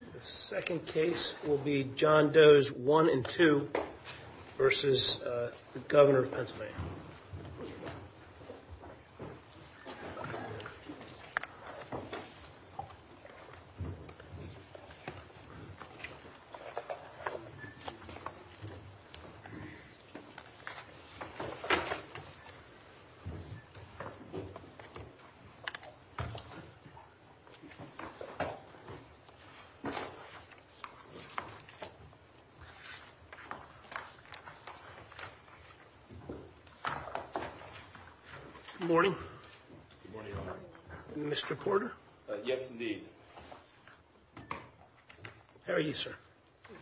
The second case will be John Doe's 1 and 2 v. Governor of Pennsylvania. Good morning. Mr. Porter? Yes, indeed. How are you, sir?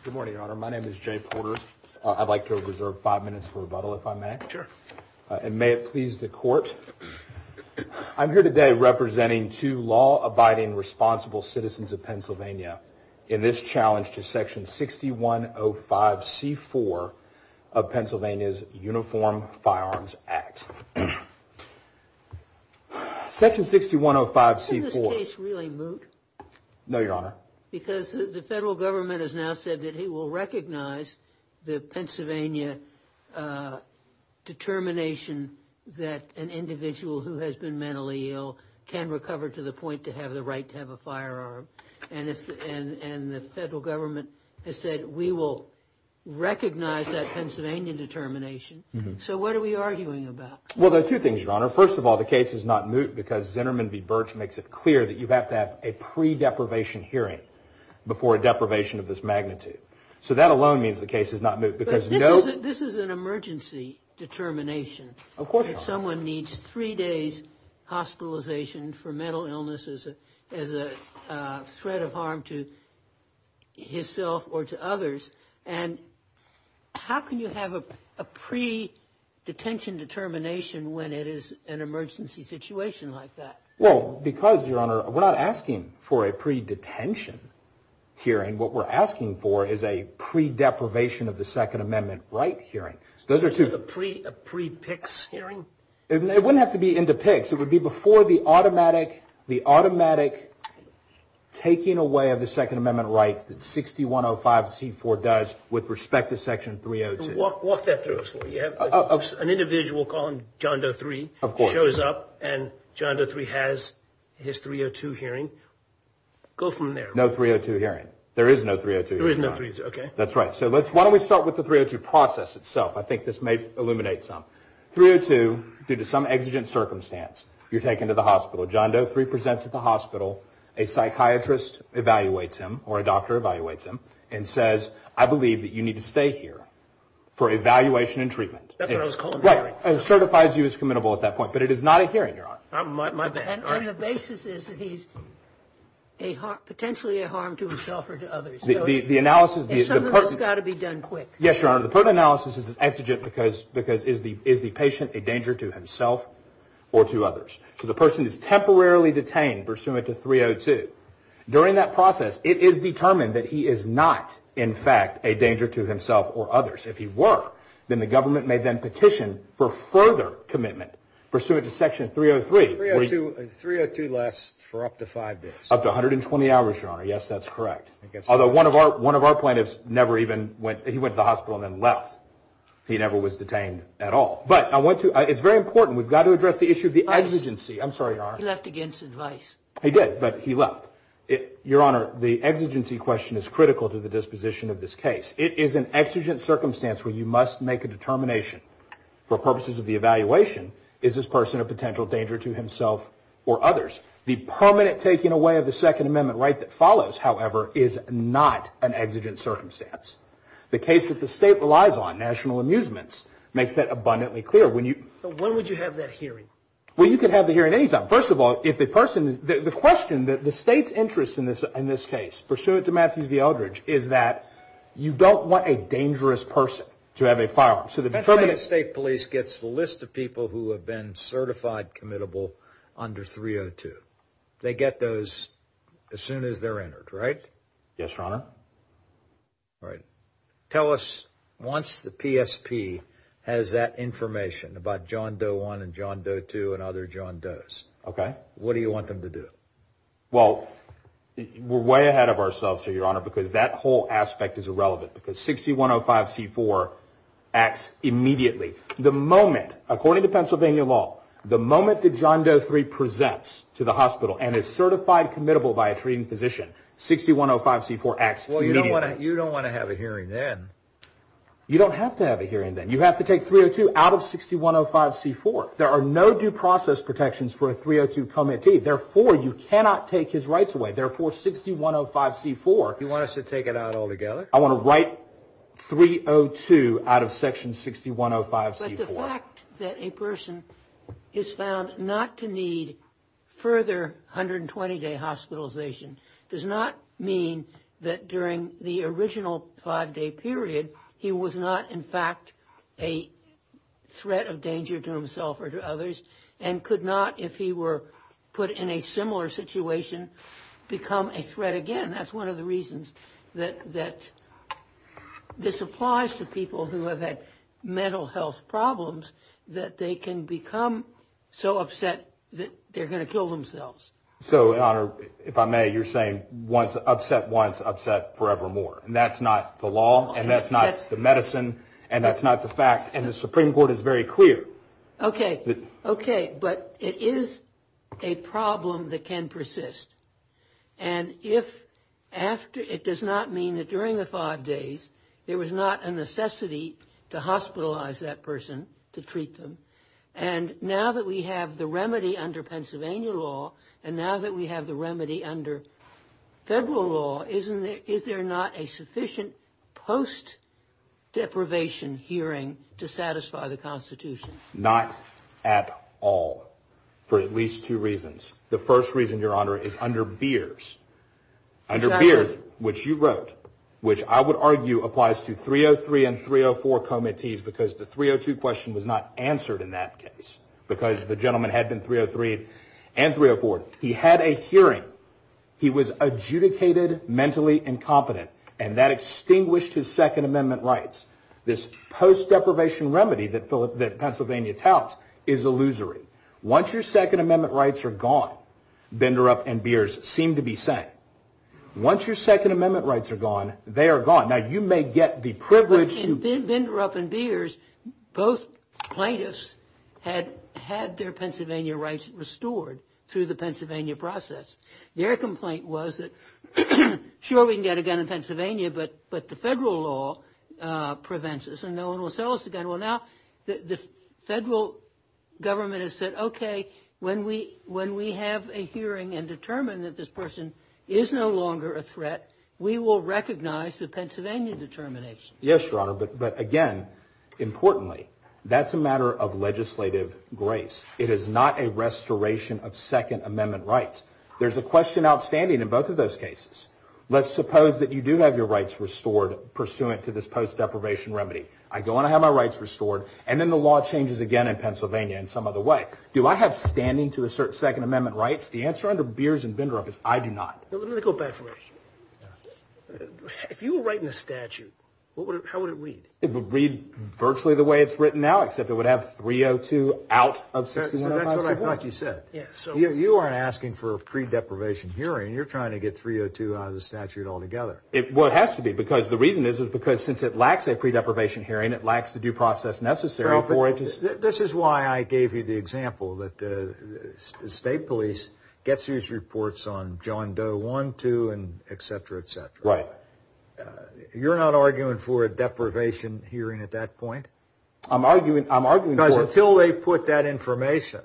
Good morning, Your Honor. My name is Jay Porter. I'd like to reserve five minutes for rebuttal, if I may. Sure. And may it please the Court, I'm here today representing two law-abiding, responsible citizens of Pennsylvania in this challenge to Section 6105c4 of Pennsylvania's Uniform Firearms Act. Section 6105c4. Isn't this case really moot? No, Your Honor. Because the federal government has now said that he will recognize the Pennsylvania determination that an individual who has been mentally ill can recover to the point to have the right to have a firearm. And the federal government has said we will recognize that Pennsylvania determination. So what are we arguing about? Well, there are two things, Your Honor. First of all, the case is not moot because Zinnerman v. Birch makes it clear that you have to have a pre-deprivation hearing before a deprivation of this magnitude. So that alone means the case is not moot. But this is an emergency determination. Of course, Your Honor. That someone needs three days hospitalization for mental illnesses as a threat of harm to himself or to others. And how can you have a pre-detention determination when it is an emergency situation like that? Well, because, Your Honor, we're not asking for a pre-detention hearing. What we're asking for is a pre-deprivation of the Second Amendment right. So is this going to be a pre-PICS hearing? It wouldn't have to be into PICS. It would be before the automatic taking away of the Second Amendment right that 6105C4 does with respect to Section 302. Walk that through us for me. You have an individual, call him John Doe III, who shows up and John Doe III has his 302 hearing. Go from there. No 302 hearing. There is no 302 hearing, Your Honor. There is no 302, okay. That's right. So why don't we start with the 302 process itself. I think this may illuminate some. 302, due to some exigent circumstance, you're taken to the hospital. John Doe III presents at the hospital. A psychiatrist evaluates him or a doctor evaluates him and says, I believe that you need to stay here for evaluation and treatment. That's what I was calling a hearing. Right. And certifies you as committable at that point. But it is not a hearing, Your Honor. My bad. And the patient is potentially a harm to himself or to others. The analysis. It's got to be done quick. Yes, Your Honor. The pertinent analysis is exigent because is the patient a danger to himself or to others? So the person is temporarily detained pursuant to 302. During that process, it is determined that he is not, in fact, a danger to himself or others. If he were, then the government may then petition for further commitment pursuant to Section 303. 302 lasts for up to 5 days. Up to 120 hours, Your Honor. Yes, that's correct. Although one of our plaintiffs never even went, he went to the hospital and then left. He never was detained at all. But I want to, it's very important. We've got to address the issue of the exigency. I'm sorry, Your Honor. He left against advice. He did, but he left. Your Honor, the exigency question is critical to the disposition of this case. It is an exigent circumstance where you must make a determination for purposes of the evaluation, is this person a potential danger to himself or others? The permanent taking away of the Second Amendment right that follows, however, is not an exigent circumstance. The case that the State relies on, national amusements, makes that abundantly clear. When you... But when would you have that hearing? Well, you could have the hearing any time. First of all, if the person, the question that the State's interest in this case, pursuant to Matthews v. Eldridge, is that you don't want a dangerous person to have a firearm. So the permanent state police gets the list of people who have been certified committable under 302. They get those as soon as they're entered, right? Yes, Your Honor. Right. Tell us, once the PSP has that information about John Doe 1 and John Doe 2 and other John Does, what do you want them to do? Well, we're way ahead of ourselves here, Your Honor, because that whole aspect is irrelevant, because 6105c4 acts immediately. The moment, according to Pennsylvania law, the moment that John Doe 3 presents to the hospital and is certified committable by a treating physician, 6105c4 acts immediately. Well, you don't want to have a hearing then. You don't have to have a hearing then. You have to take 302 out of 6105c4. There are no due process protections for a 302 commentee. Therefore, you cannot take it out altogether. I want to write 302 out of section 6105c4. But the fact that a person is found not to need further 120-day hospitalization does not mean that during the original five-day period he was not, in fact, a threat of danger to himself or to others and could not, if he were put in a similar situation, become a threat again. And that's one of the reasons that this applies to people who have had mental health problems, that they can become so upset that they're going to kill themselves. So, Your Honor, if I may, you're saying upset once, upset forevermore. And that's not the law. And that's not the medicine. And that's not the fact. And the Supreme Court is very clear. Okay. Okay. But it is a problem that can persist. And if after, it does not mean that during the five days there was not a necessity to hospitalize that person, to treat them. And now that we have the remedy under Pennsylvania law, and now that we have the remedy under federal law, isn't there, is there not a sufficient post-deprivation hearing to satisfy the Constitution? Not at all. For at least two reasons. The first reason, Your Honor, is under Beers. Under Beers, which you wrote, which I would argue applies to 303 and 304 comitees, because the 302 question was not answered in that case, because the gentleman had been 303 and 304. He had a hearing. He was adjudicated mentally incompetent, and that extinguished his Second Amendment rights. This post-deprivation remedy that Pennsylvania touts is illusory. Once your Second Amendment rights are gone, Benderup and Beers seem to be sane. Once your Second Amendment rights are gone, they are gone. Now, you may get the privilege to... ...through the Pennsylvania process. Their complaint was that, sure, we can get a gun in Pennsylvania, but the federal law prevents us, and no one will sell us a gun. Well, now, the federal government has said, OK, when we have a hearing and determine that this person is no longer a threat, we will recognize the Pennsylvania determination. Yes, Your Honor, but again, importantly, that's a matter of legislative grace. It is not a matter of restoration of Second Amendment rights. There's a question outstanding in both of those cases. Let's suppose that you do have your rights restored pursuant to this post- deprivation remedy. I go and I have my rights restored, and then the law changes again in Pennsylvania in some other way. Do I have standing to assert Second Amendment rights? The answer under Beers and Benderup is I do not. Let me go back for a second. If you were writing a statute, how would it read? It would read virtually the way it's written now, except it would have 302 out of 6105-64. That's what I thought you said. You aren't asking for a pre-deprivation hearing. You're trying to get 302 out of the statute altogether. Well, it has to be, because the reason is, is because since it lacks a pre-deprivation hearing, it lacks the due process necessary. This is why I gave you the example that the state police gets these reports on John Doe 1, 2, and et cetera, et cetera. Right. You're not arguing for a deprivation hearing at that point? I'm arguing for it. Because until they put that information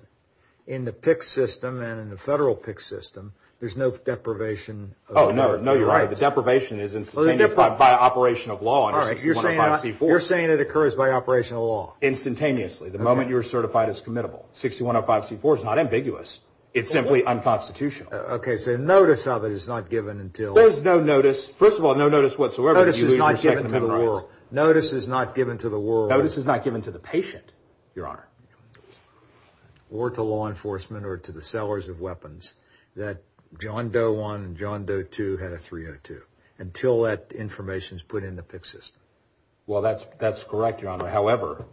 in the PICS system and in the federal PICS system, there's no deprivation. Oh, no, you're right. The deprivation is instantaneous by operation of law under 6105-C-4. You're saying it occurs by operation of law? Instantaneously. The moment you're certified as committable. 6105-C-4 is not ambiguous. It's simply unconstitutional. Okay, so notice of it is not given until- There's no notice. First of all, no notice whatsoever that you leave your Second Amendment rights. Notice is not given to the world. Notice is not given to the patient, Your Honor. Or to law enforcement or to the sellers of weapons that John Doe 1 and John Doe 2 had a 302. Until that information is put in the PICS system. Well, that's correct, Your Honor. However,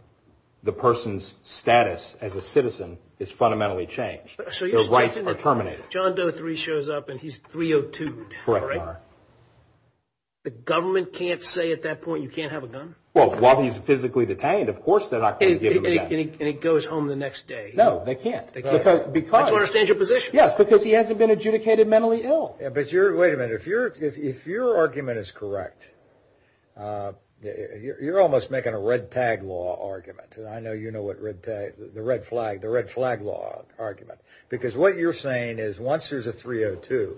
the person's status as a citizen is fundamentally changed. So you're saying that- Their rights are terminated. John Doe 3 shows up and he's 302'd, right? Correct, Your Honor. The government can't say at that point, you can't have a gun? Well, while he's physically detained, of course they're not going to give him a gun. And he goes home the next day. No, they can't. That's why he's in a dangerous position. Yes, because he hasn't been adjudicated mentally ill. But wait a minute. If your argument is correct, you're almost making a red tag law argument. I know you know what red tag, the red flag, the red flag law argument. Because what you're saying is once there's a 302,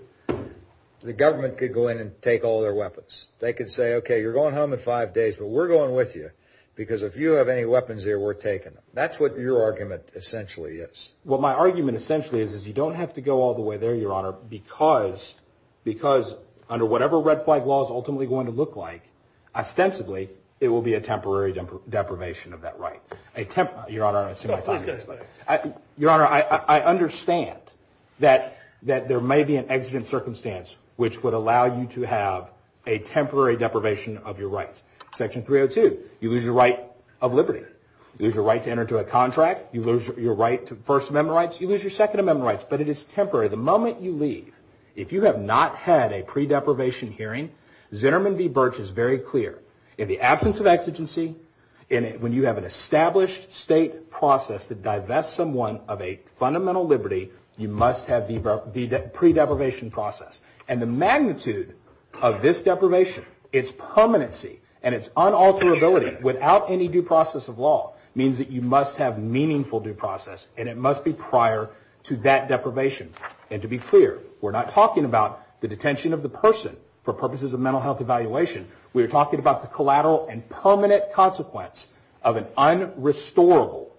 the government could go in and take all their weapons. They could say, okay, you're going home in five days, but we're going with you because if you have any weapons here, we're taking them. That's what your argument essentially is. What my argument essentially is, is you don't have to go all the way there, Your Honor, because under whatever red flag law is ultimately going to look like, ostensibly, it will be a temporary deprivation of that right. Your Honor, I understand that there may be an exigent circumstance which would allow you to have a temporary deprivation of your rights. Section 302, you lose your right of liberty. You lose your right to enter into a contract. You lose your right to First Amendment rights. You lose your Second Amendment rights, but it is temporary. The moment you leave, if you have not had a pre-deprivation hearing, Zinnerman v. Birch is very clear. In the absence of exigency, when you have an established state process that divests someone of a fundamental liberty, you must have the pre-deprivation process. The magnitude of this deprivation, its permanency and its unalterability without any due process of law, means that you must have meaningful due process and it must be prior to that deprivation. To be clear, we're not talking about the detention of the person for purposes of mental health evaluation. We are talking about the collateral and permanent consequence of an unrestorable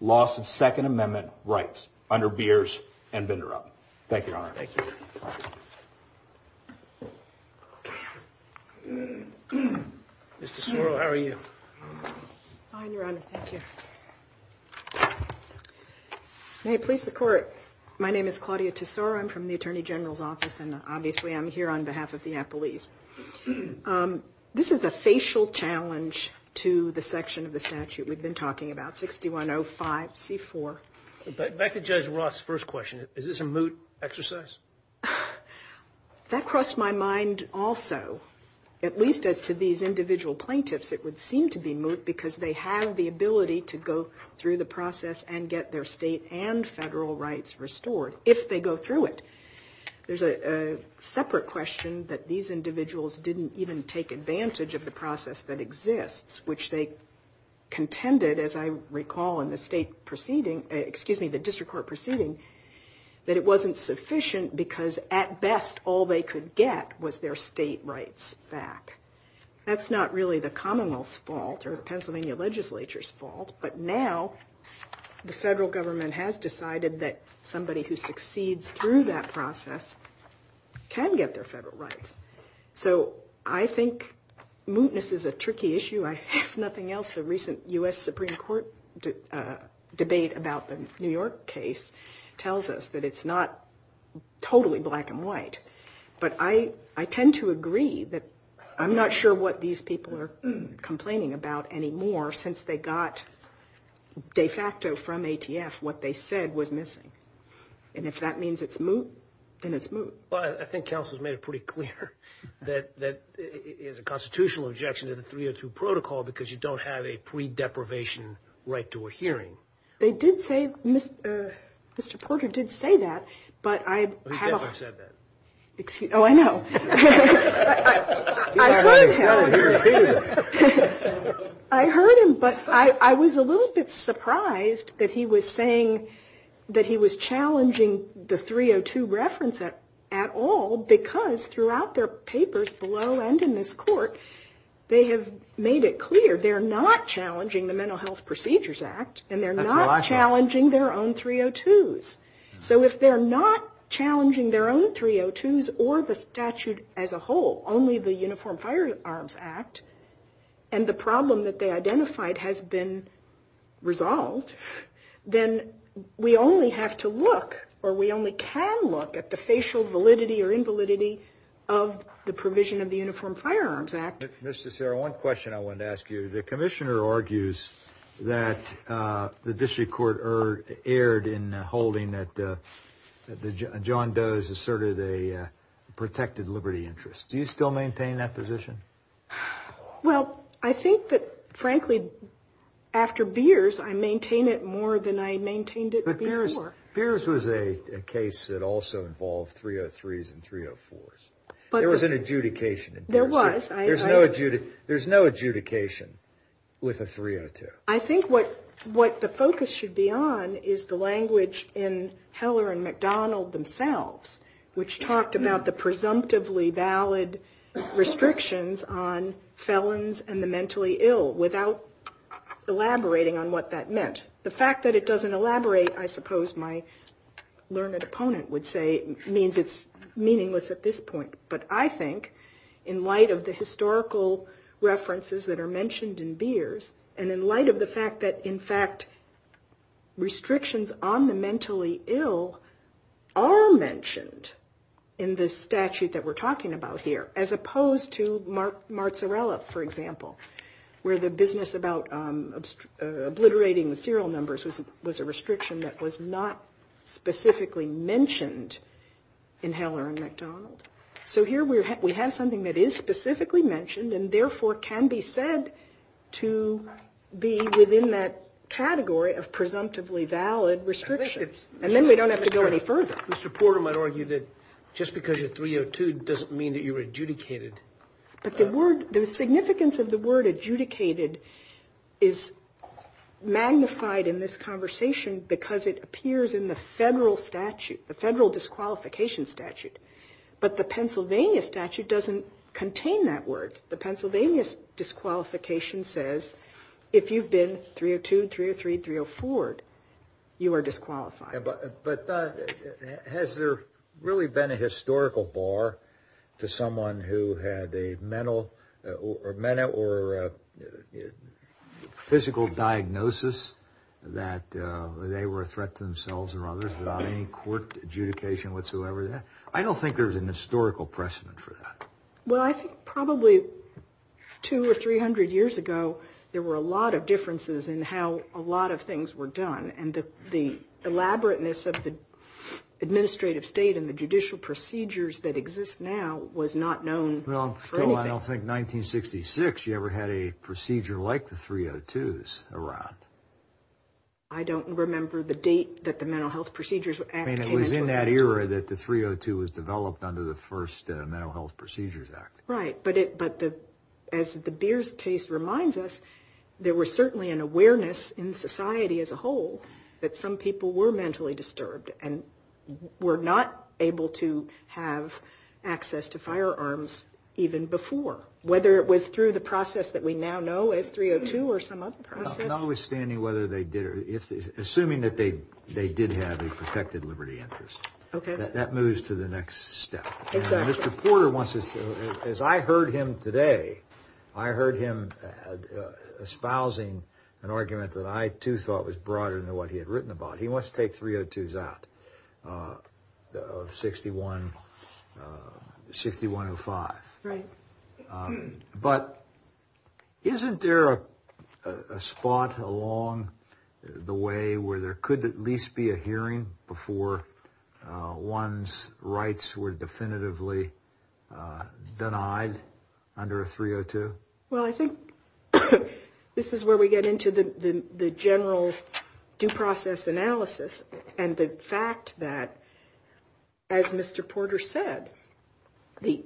loss of Second Amendment rights under Birch and Vindorup. Thank you, Your Honor. Thank you. Ms. Tesoro, how are you? I'm fine, Your Honor. Thank you. May it please the Court, my name is Claudia Tesoro. I'm from the Attorney General's Office and obviously I'm here on behalf of the Appleese. This is a facial challenge to the section of the statute we've been talking about, 6105C4. Back to Judge Ross' first question. Is this a moot exercise? That crossed my mind also. At least as to these individual plaintiffs, it would seem to be moot because they have the ability to go through the process and get their state and federal rights restored if they go through it. There's a separate question that these individuals didn't even take advantage of the process that exists, which they contended, as I recall in the state proceeding, excuse me, the district court proceeding, that it wasn't sufficient because at best all they could get was their state rights back. That's not really the Commonwealth's fault or Pennsylvania legislature's fault, but now the federal government has decided that somebody who succeeds through that process can get their federal rights. So I think mootness is a tricky issue. I have nothing else. The recent U.S. Supreme Court debate about the New York case tells us that it's not totally black and white. But I tend to agree that I'm not sure what these people are complaining about anymore since they got de facto from ATF what they said was missing. And if that means it's moot, then it's moot. Well, I think counsel's made it pretty clear that it is a constitutional objection to the protocol, because you don't have a pre-deprivation right to a hearing. They did say, Mr. Porter did say that, but I have a... He never said that. Oh, I know. I heard him, but I was a little bit surprised that he was saying that he was challenging the 302 reference at all, because throughout their papers below and in this court, they have made it clear they're not challenging the Mental Health Procedures Act and they're not challenging their own 302s. So if they're not challenging their own 302s or the statute as a whole, only the Uniform Firearms Act, and the problem that they identified has been resolved, then we only have to look or we only can look at the facial validity or invalidity of the provision of the Uniform Firearms Act. Mr. Serra, one question I wanted to ask you. The commissioner argues that the district court erred in holding that John Doe has asserted a protected liberty interest. Do you still maintain that position? Well, I think that, frankly, after Beers, I maintain it more than I maintained it before. But Beers was a case that also involved 303s and 304s. There was an adjudication in Beers. There's no adjudication with a 302. I think what the focus should be on is the language in Heller and McDonald themselves, which talked about the presumptively valid restrictions on felons and the mentally ill without elaborating on what that meant. The fact that it doesn't elaborate, I suppose my learned opponent would say, means it's meaningless at this point. But I think, in light of the historical references that are mentioned in Beers, and in light of the fact that, in fact, restrictions on the mentally ill are mentioned in the statute that we're talking about here, as opposed to Marzarella, for example, where the business about obliterating the serial numbers was a restriction that was not specifically mentioned in Heller and McDonald. So here we have something that is specifically mentioned, and therefore can be said to be within that category of presumptively valid restrictions. And then we don't have to go any further. Mr. Porter might argue that just because you're 302 doesn't mean that you were adjudicated. But the significance of the word adjudicated is magnified in this conversation because it appears in the federal statute, the federal disqualification statute. But the Pennsylvania statute doesn't contain that word. The Pennsylvania disqualification says, if you've been 302, 303, 304, you are disqualified. But has there really been a historical bar to someone who had a mental or mental or physical diagnosis that they were a threat to themselves or others without any court adjudication whatsoever? I don't think there's an historical precedent for that. Well, I think probably two or three hundred years ago, there were a lot of differences in how a lot of things were done. And the elaborateness of the administrative state and the judicial procedures that exist now was not known for anything. I don't think 1966 you ever had a procedure like the 302s around. I don't remember the date that the Mental Health Procedures Act came into effect. I mean, it was in that era that the 302 was developed under the first Mental Health Procedures Act. Right. But as the Beers case reminds us, there was certainly an awareness in society as a whole that some people were mentally disturbed and were not able to have access to firearms even before, whether it was through the process that we now know as 302 or some other process. Notwithstanding whether they did or if they did, assuming that they did have a protected liberty interest. OK. That moves to the next step. Exactly. And Mr. Porter wants us to, as I heard him today, I heard him espousing an argument that I too thought was broader than what he had written about. He wants to take 302s out of 6105. Right. But isn't there a spot along the way where there could at least be a hearing before one's rights were definitively denied under a 302? Well, I think this is where we get into the general due process analysis and the fact that, as Mr. Porter said, the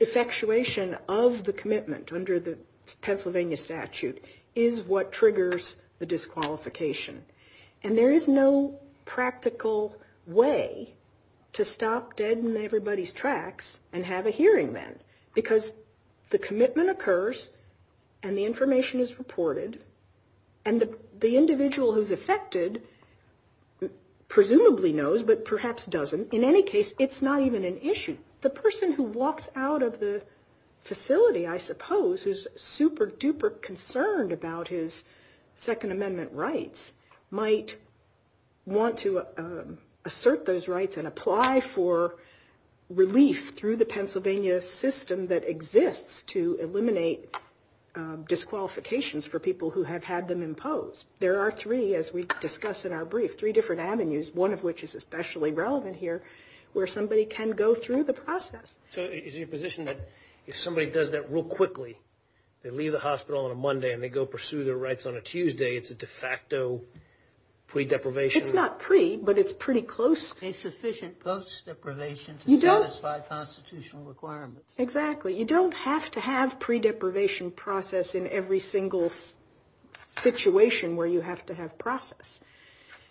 effectuation of the commitment under the Pennsylvania statute is what triggers the disqualification. And there is no practical way to stop dead in everybody's tracks and have a hearing then because the commitment occurs and the information is reported and the individual who's affected presumably knows, but perhaps doesn't. In any case, it's not even an issue. The person who walks out of the facility, I suppose, who's super duper concerned about his Second Amendment rights might want to assert those rights and apply for relief through the Pennsylvania system that exists to eliminate disqualifications for people who have had them imposed. There are three, as we discuss in our brief, three different avenues, one of which is especially relevant here, where somebody can go through the process. So is it your position that if somebody does that real quickly, they leave the hospital on a Monday and they go pursue their rights on a Tuesday, it's a de facto pre-deprivation? It's not pre, but it's pretty close. A sufficient post-deprivation to satisfy constitutional requirements. Exactly. You don't have to have pre-deprivation process in every single situation where you have to have process.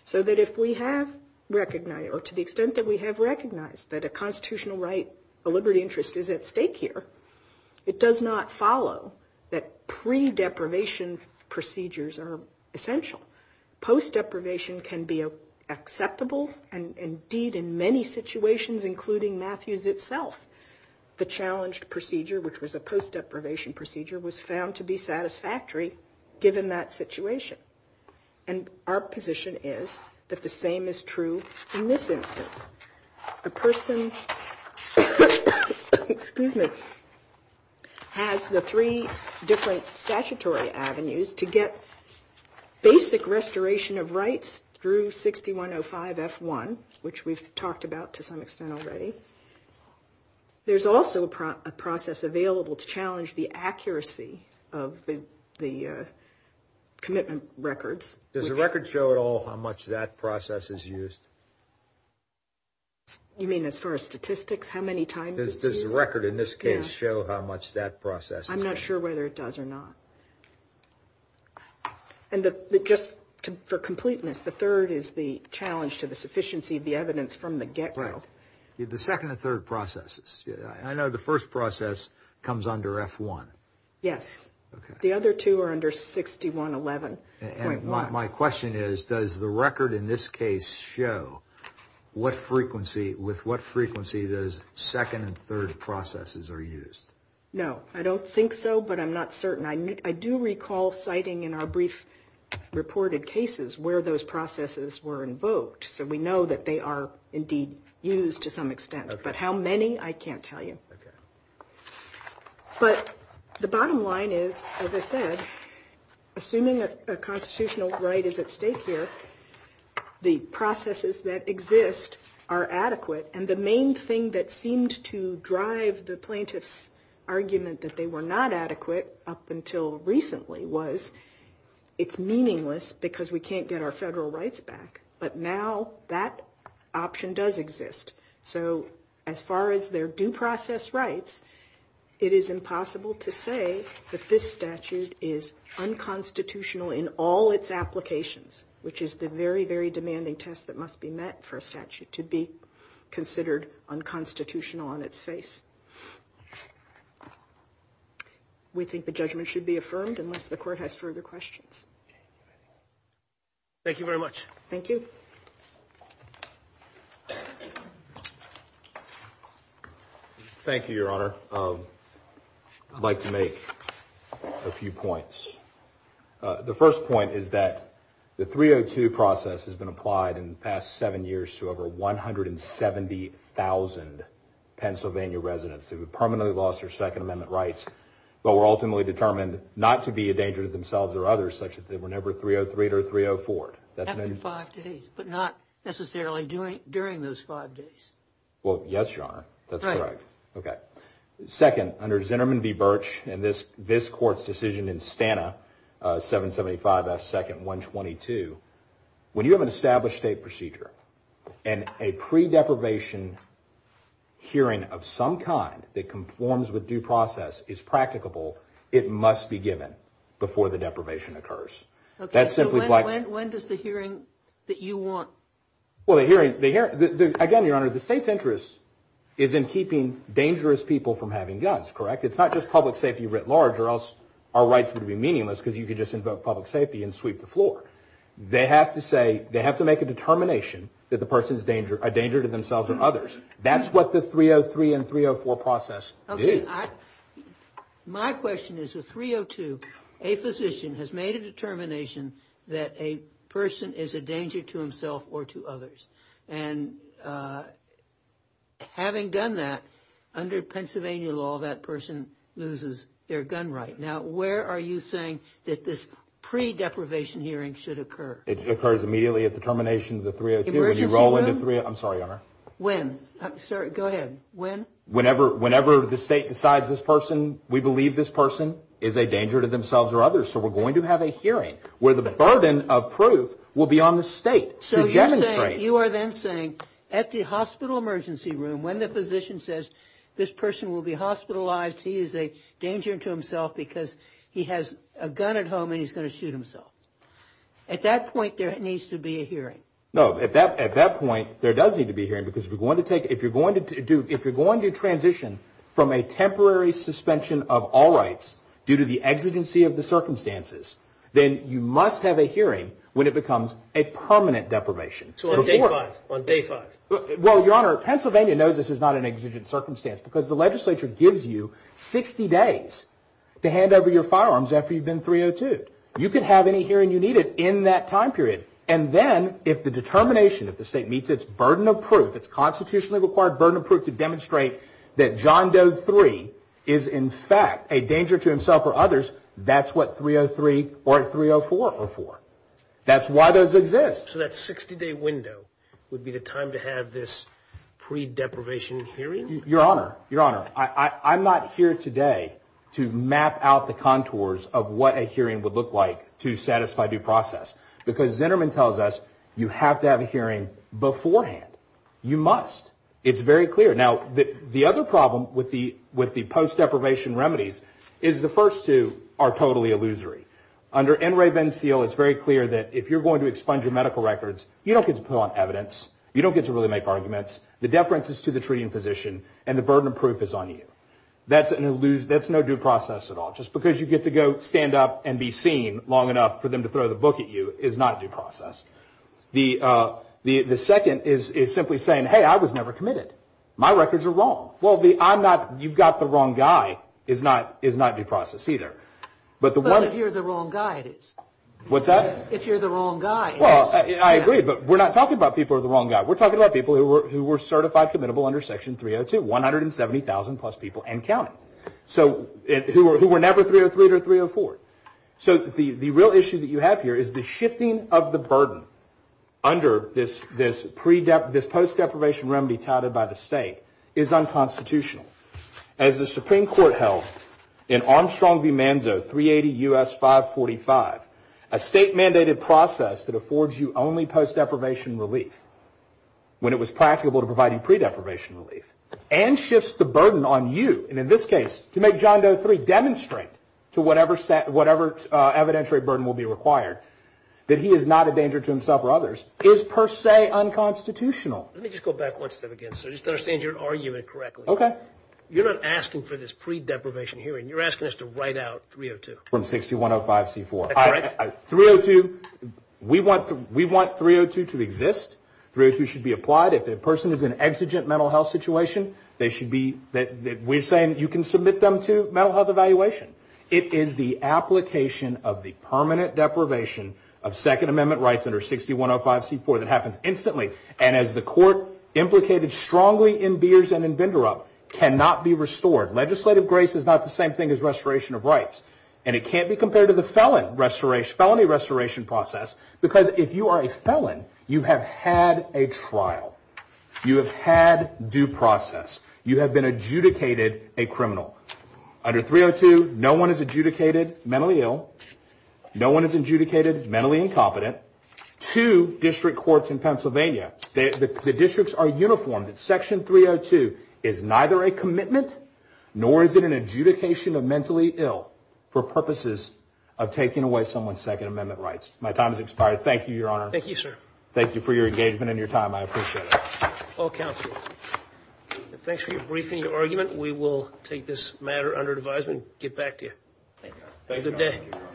So that if we have recognized, or to the extent that we have recognized that a constitutional right, a liberty interest is at stake here, it does not follow that pre-deprivation procedures are essential. Post-deprivation can be acceptable and indeed in many situations, including Matthews itself, the challenged procedure, which was a post-deprivation procedure, was found to be satisfactory given that situation. And our position is that the same is true in this instance. A person, excuse me, has the three different statutory avenues to get basic restoration of rights through 6105F1, which we've talked about to some extent already. There's also a process available to challenge the accuracy of the commitment records. Does the record show at all how much that process is used? You mean as far as statistics? How many times it's used? Does the record in this case show how much that process is used? I'm not sure whether it does or not. And just for completeness, the third is the challenge to the sufficiency of the evidence from the get-go. Right. The second and third processes. I know the first process comes under F1. Yes. The other two are under 6111.1. My question is, does the record in this case show with what frequency those second and third processes are used? No. I don't think so, but I'm not certain. I do recall citing in our brief reported cases where those processes were invoked, so we know that they are indeed used to some extent, but how many, I can't tell you. But the bottom line is, as I said, assuming a constitutional right is at stake here, the processes that exist are adequate, and the main thing that seemed to drive the plaintiff's were not adequate up until recently was, it's meaningless because we can't get our federal rights back. But now that option does exist. So as far as their due process rights, it is impossible to say that this statute is unconstitutional in all its applications, which is the very, very demanding test that must be met for a statute to be considered unconstitutional on its face. We think the judgment should be affirmed unless the court has further questions. Thank you very much. Thank you. Thank you, Your Honor. I'd like to make a few points. The first point is that the 302 process has been applied in the past seven years to over 170,000 Pennsylvania residents who have permanently lost their Second Amendment rights, but were ultimately determined not to be a danger to themselves or others, such that they were never 303'd or 304'd. That's been five days, but not necessarily during those five days. Well, yes, Your Honor. That's correct. Right. Okay. Second, under Zinnerman v. Birch, and this court's decision in Stana, 775F, Second, and 122, when you have an established state procedure and a pre-deprivation hearing of some kind that conforms with due process is practicable, it must be given before the deprivation occurs. Okay. When does the hearing that you want... Well, the hearing... Again, Your Honor, the state's interest is in keeping dangerous people from having guns, correct? It's not just public safety writ large, or else our rights would be meaningless because you could just invoke public safety and sweep the floor. They have to say, they have to make a determination that the person's a danger to themselves or others. That's what the 303 and 304 process did. Okay. My question is, with 302, a physician has made a determination that a person is a danger to himself or to others. And having done that, under Pennsylvania law, that person loses their gun right. Now, where are you saying that this pre-deprivation hearing should occur? It occurs immediately at the termination of the 302. Emergency room? I'm sorry, Your Honor. When? Go ahead. When? Whenever the state decides this person, we believe this person is a danger to themselves or others. So we're going to have a hearing where the burden of proof will be on the state to demonstrate. So you are then saying, at the hospital emergency room, when the physician says, this person will be hospitalized, he is a danger to himself because he has a gun at home and he's going to shoot himself. At that point, there needs to be a hearing. No. At that point, there does need to be a hearing because if you're going to transition from a temporary suspension of all rights due to the exigency of the circumstances, then you must have a hearing when it becomes a permanent deprivation. So on day five. On day five. Well, Your Honor, Pennsylvania knows this is not an exigent circumstance because the legislature gives you 60 days to hand over your firearms after you've been 302'd. You can have any hearing you needed in that time period. And then if the determination of the state meets its burden of proof, its constitutionally required burden of proof to demonstrate that John Doe 3 is in fact a danger to himself or others, that's what 303 or 304 are for. That's why those exist. So that 60 day window would be the time to have this pre-deprivation hearing? Your Honor. Your Honor. I'm not here today to map out the contours of what a hearing would look like to satisfy due process. Because Zinnerman tells us you have to have a hearing beforehand. You must. It's very clear. Now, the other problem with the post-deprivation remedies is the first two are totally illusory. Under NREB NCL, it's very clear that if you're going to expunge your medical records, you don't get to put on evidence. You don't get to really make arguments. The deference is to the treating physician and the burden of proof is on you. That's no due process at all. Just because you get to go stand up and be seen long enough for them to throw the book at you is not due process. The second is simply saying, hey, I was never committed. My records are wrong. Well, the I'm not, you've got the wrong guy is not due process either. But if you're the wrong guy, it is. What's that? If you're the wrong guy. Well, I agree. But we're not talking about people who are the wrong guy. We're talking about people who were certified committable under Section 302. 170,000 plus people and counting. So, who were never 303 or 304. So, the real issue that you have here is the shifting of the burden under this post-deprivation remedy titled by the state is unconstitutional. As the Supreme Court held in Armstrong v. Manzo, 380 U.S. 545, a state mandated process that affords you only post-deprivation relief when it was practicable to provide you pre-deprivation relief and shifts the burden on you. And in this case, to make John Doe 3 demonstrate to whatever evidentiary burden will be required that he is not a danger to himself or others is per se unconstitutional. Let me just go back one step again. So, just to understand your argument correctly. Okay. You're not asking for this pre-deprivation hearing. You're asking us to write out 302. From 6105C4. That's correct. 302. We want 302 to exist. 302 should be applied. If the person is in an exigent mental health situation, they should be. We're saying you can submit them to mental health evaluation. It is the application of the permanent deprivation of Second Amendment rights under 6105C4 that happens instantly. And as the court implicated strongly in Beers and in Binderup, cannot be restored. Legislative grace is not the same thing as restoration of rights. And it can't be compared to the felony restoration process. Because if you are a felon, you have had a trial. You have had due process. You have been adjudicated a criminal. Under 302, no one is adjudicated mentally ill. No one is adjudicated mentally incompetent. Two district courts in Pennsylvania, the districts are uniformed. Section 302 is neither a commitment nor is it an adjudication of mentally ill. For purposes of taking away someone's Second Amendment rights. My time has expired. Thank you, Your Honor. Thank you, sir. Thank you for your engagement and your time. I appreciate it. All counselors. Thanks for your briefing and your argument. We will take this matter under advisement and get back to you. Thank you, Your Honor. Have a good day.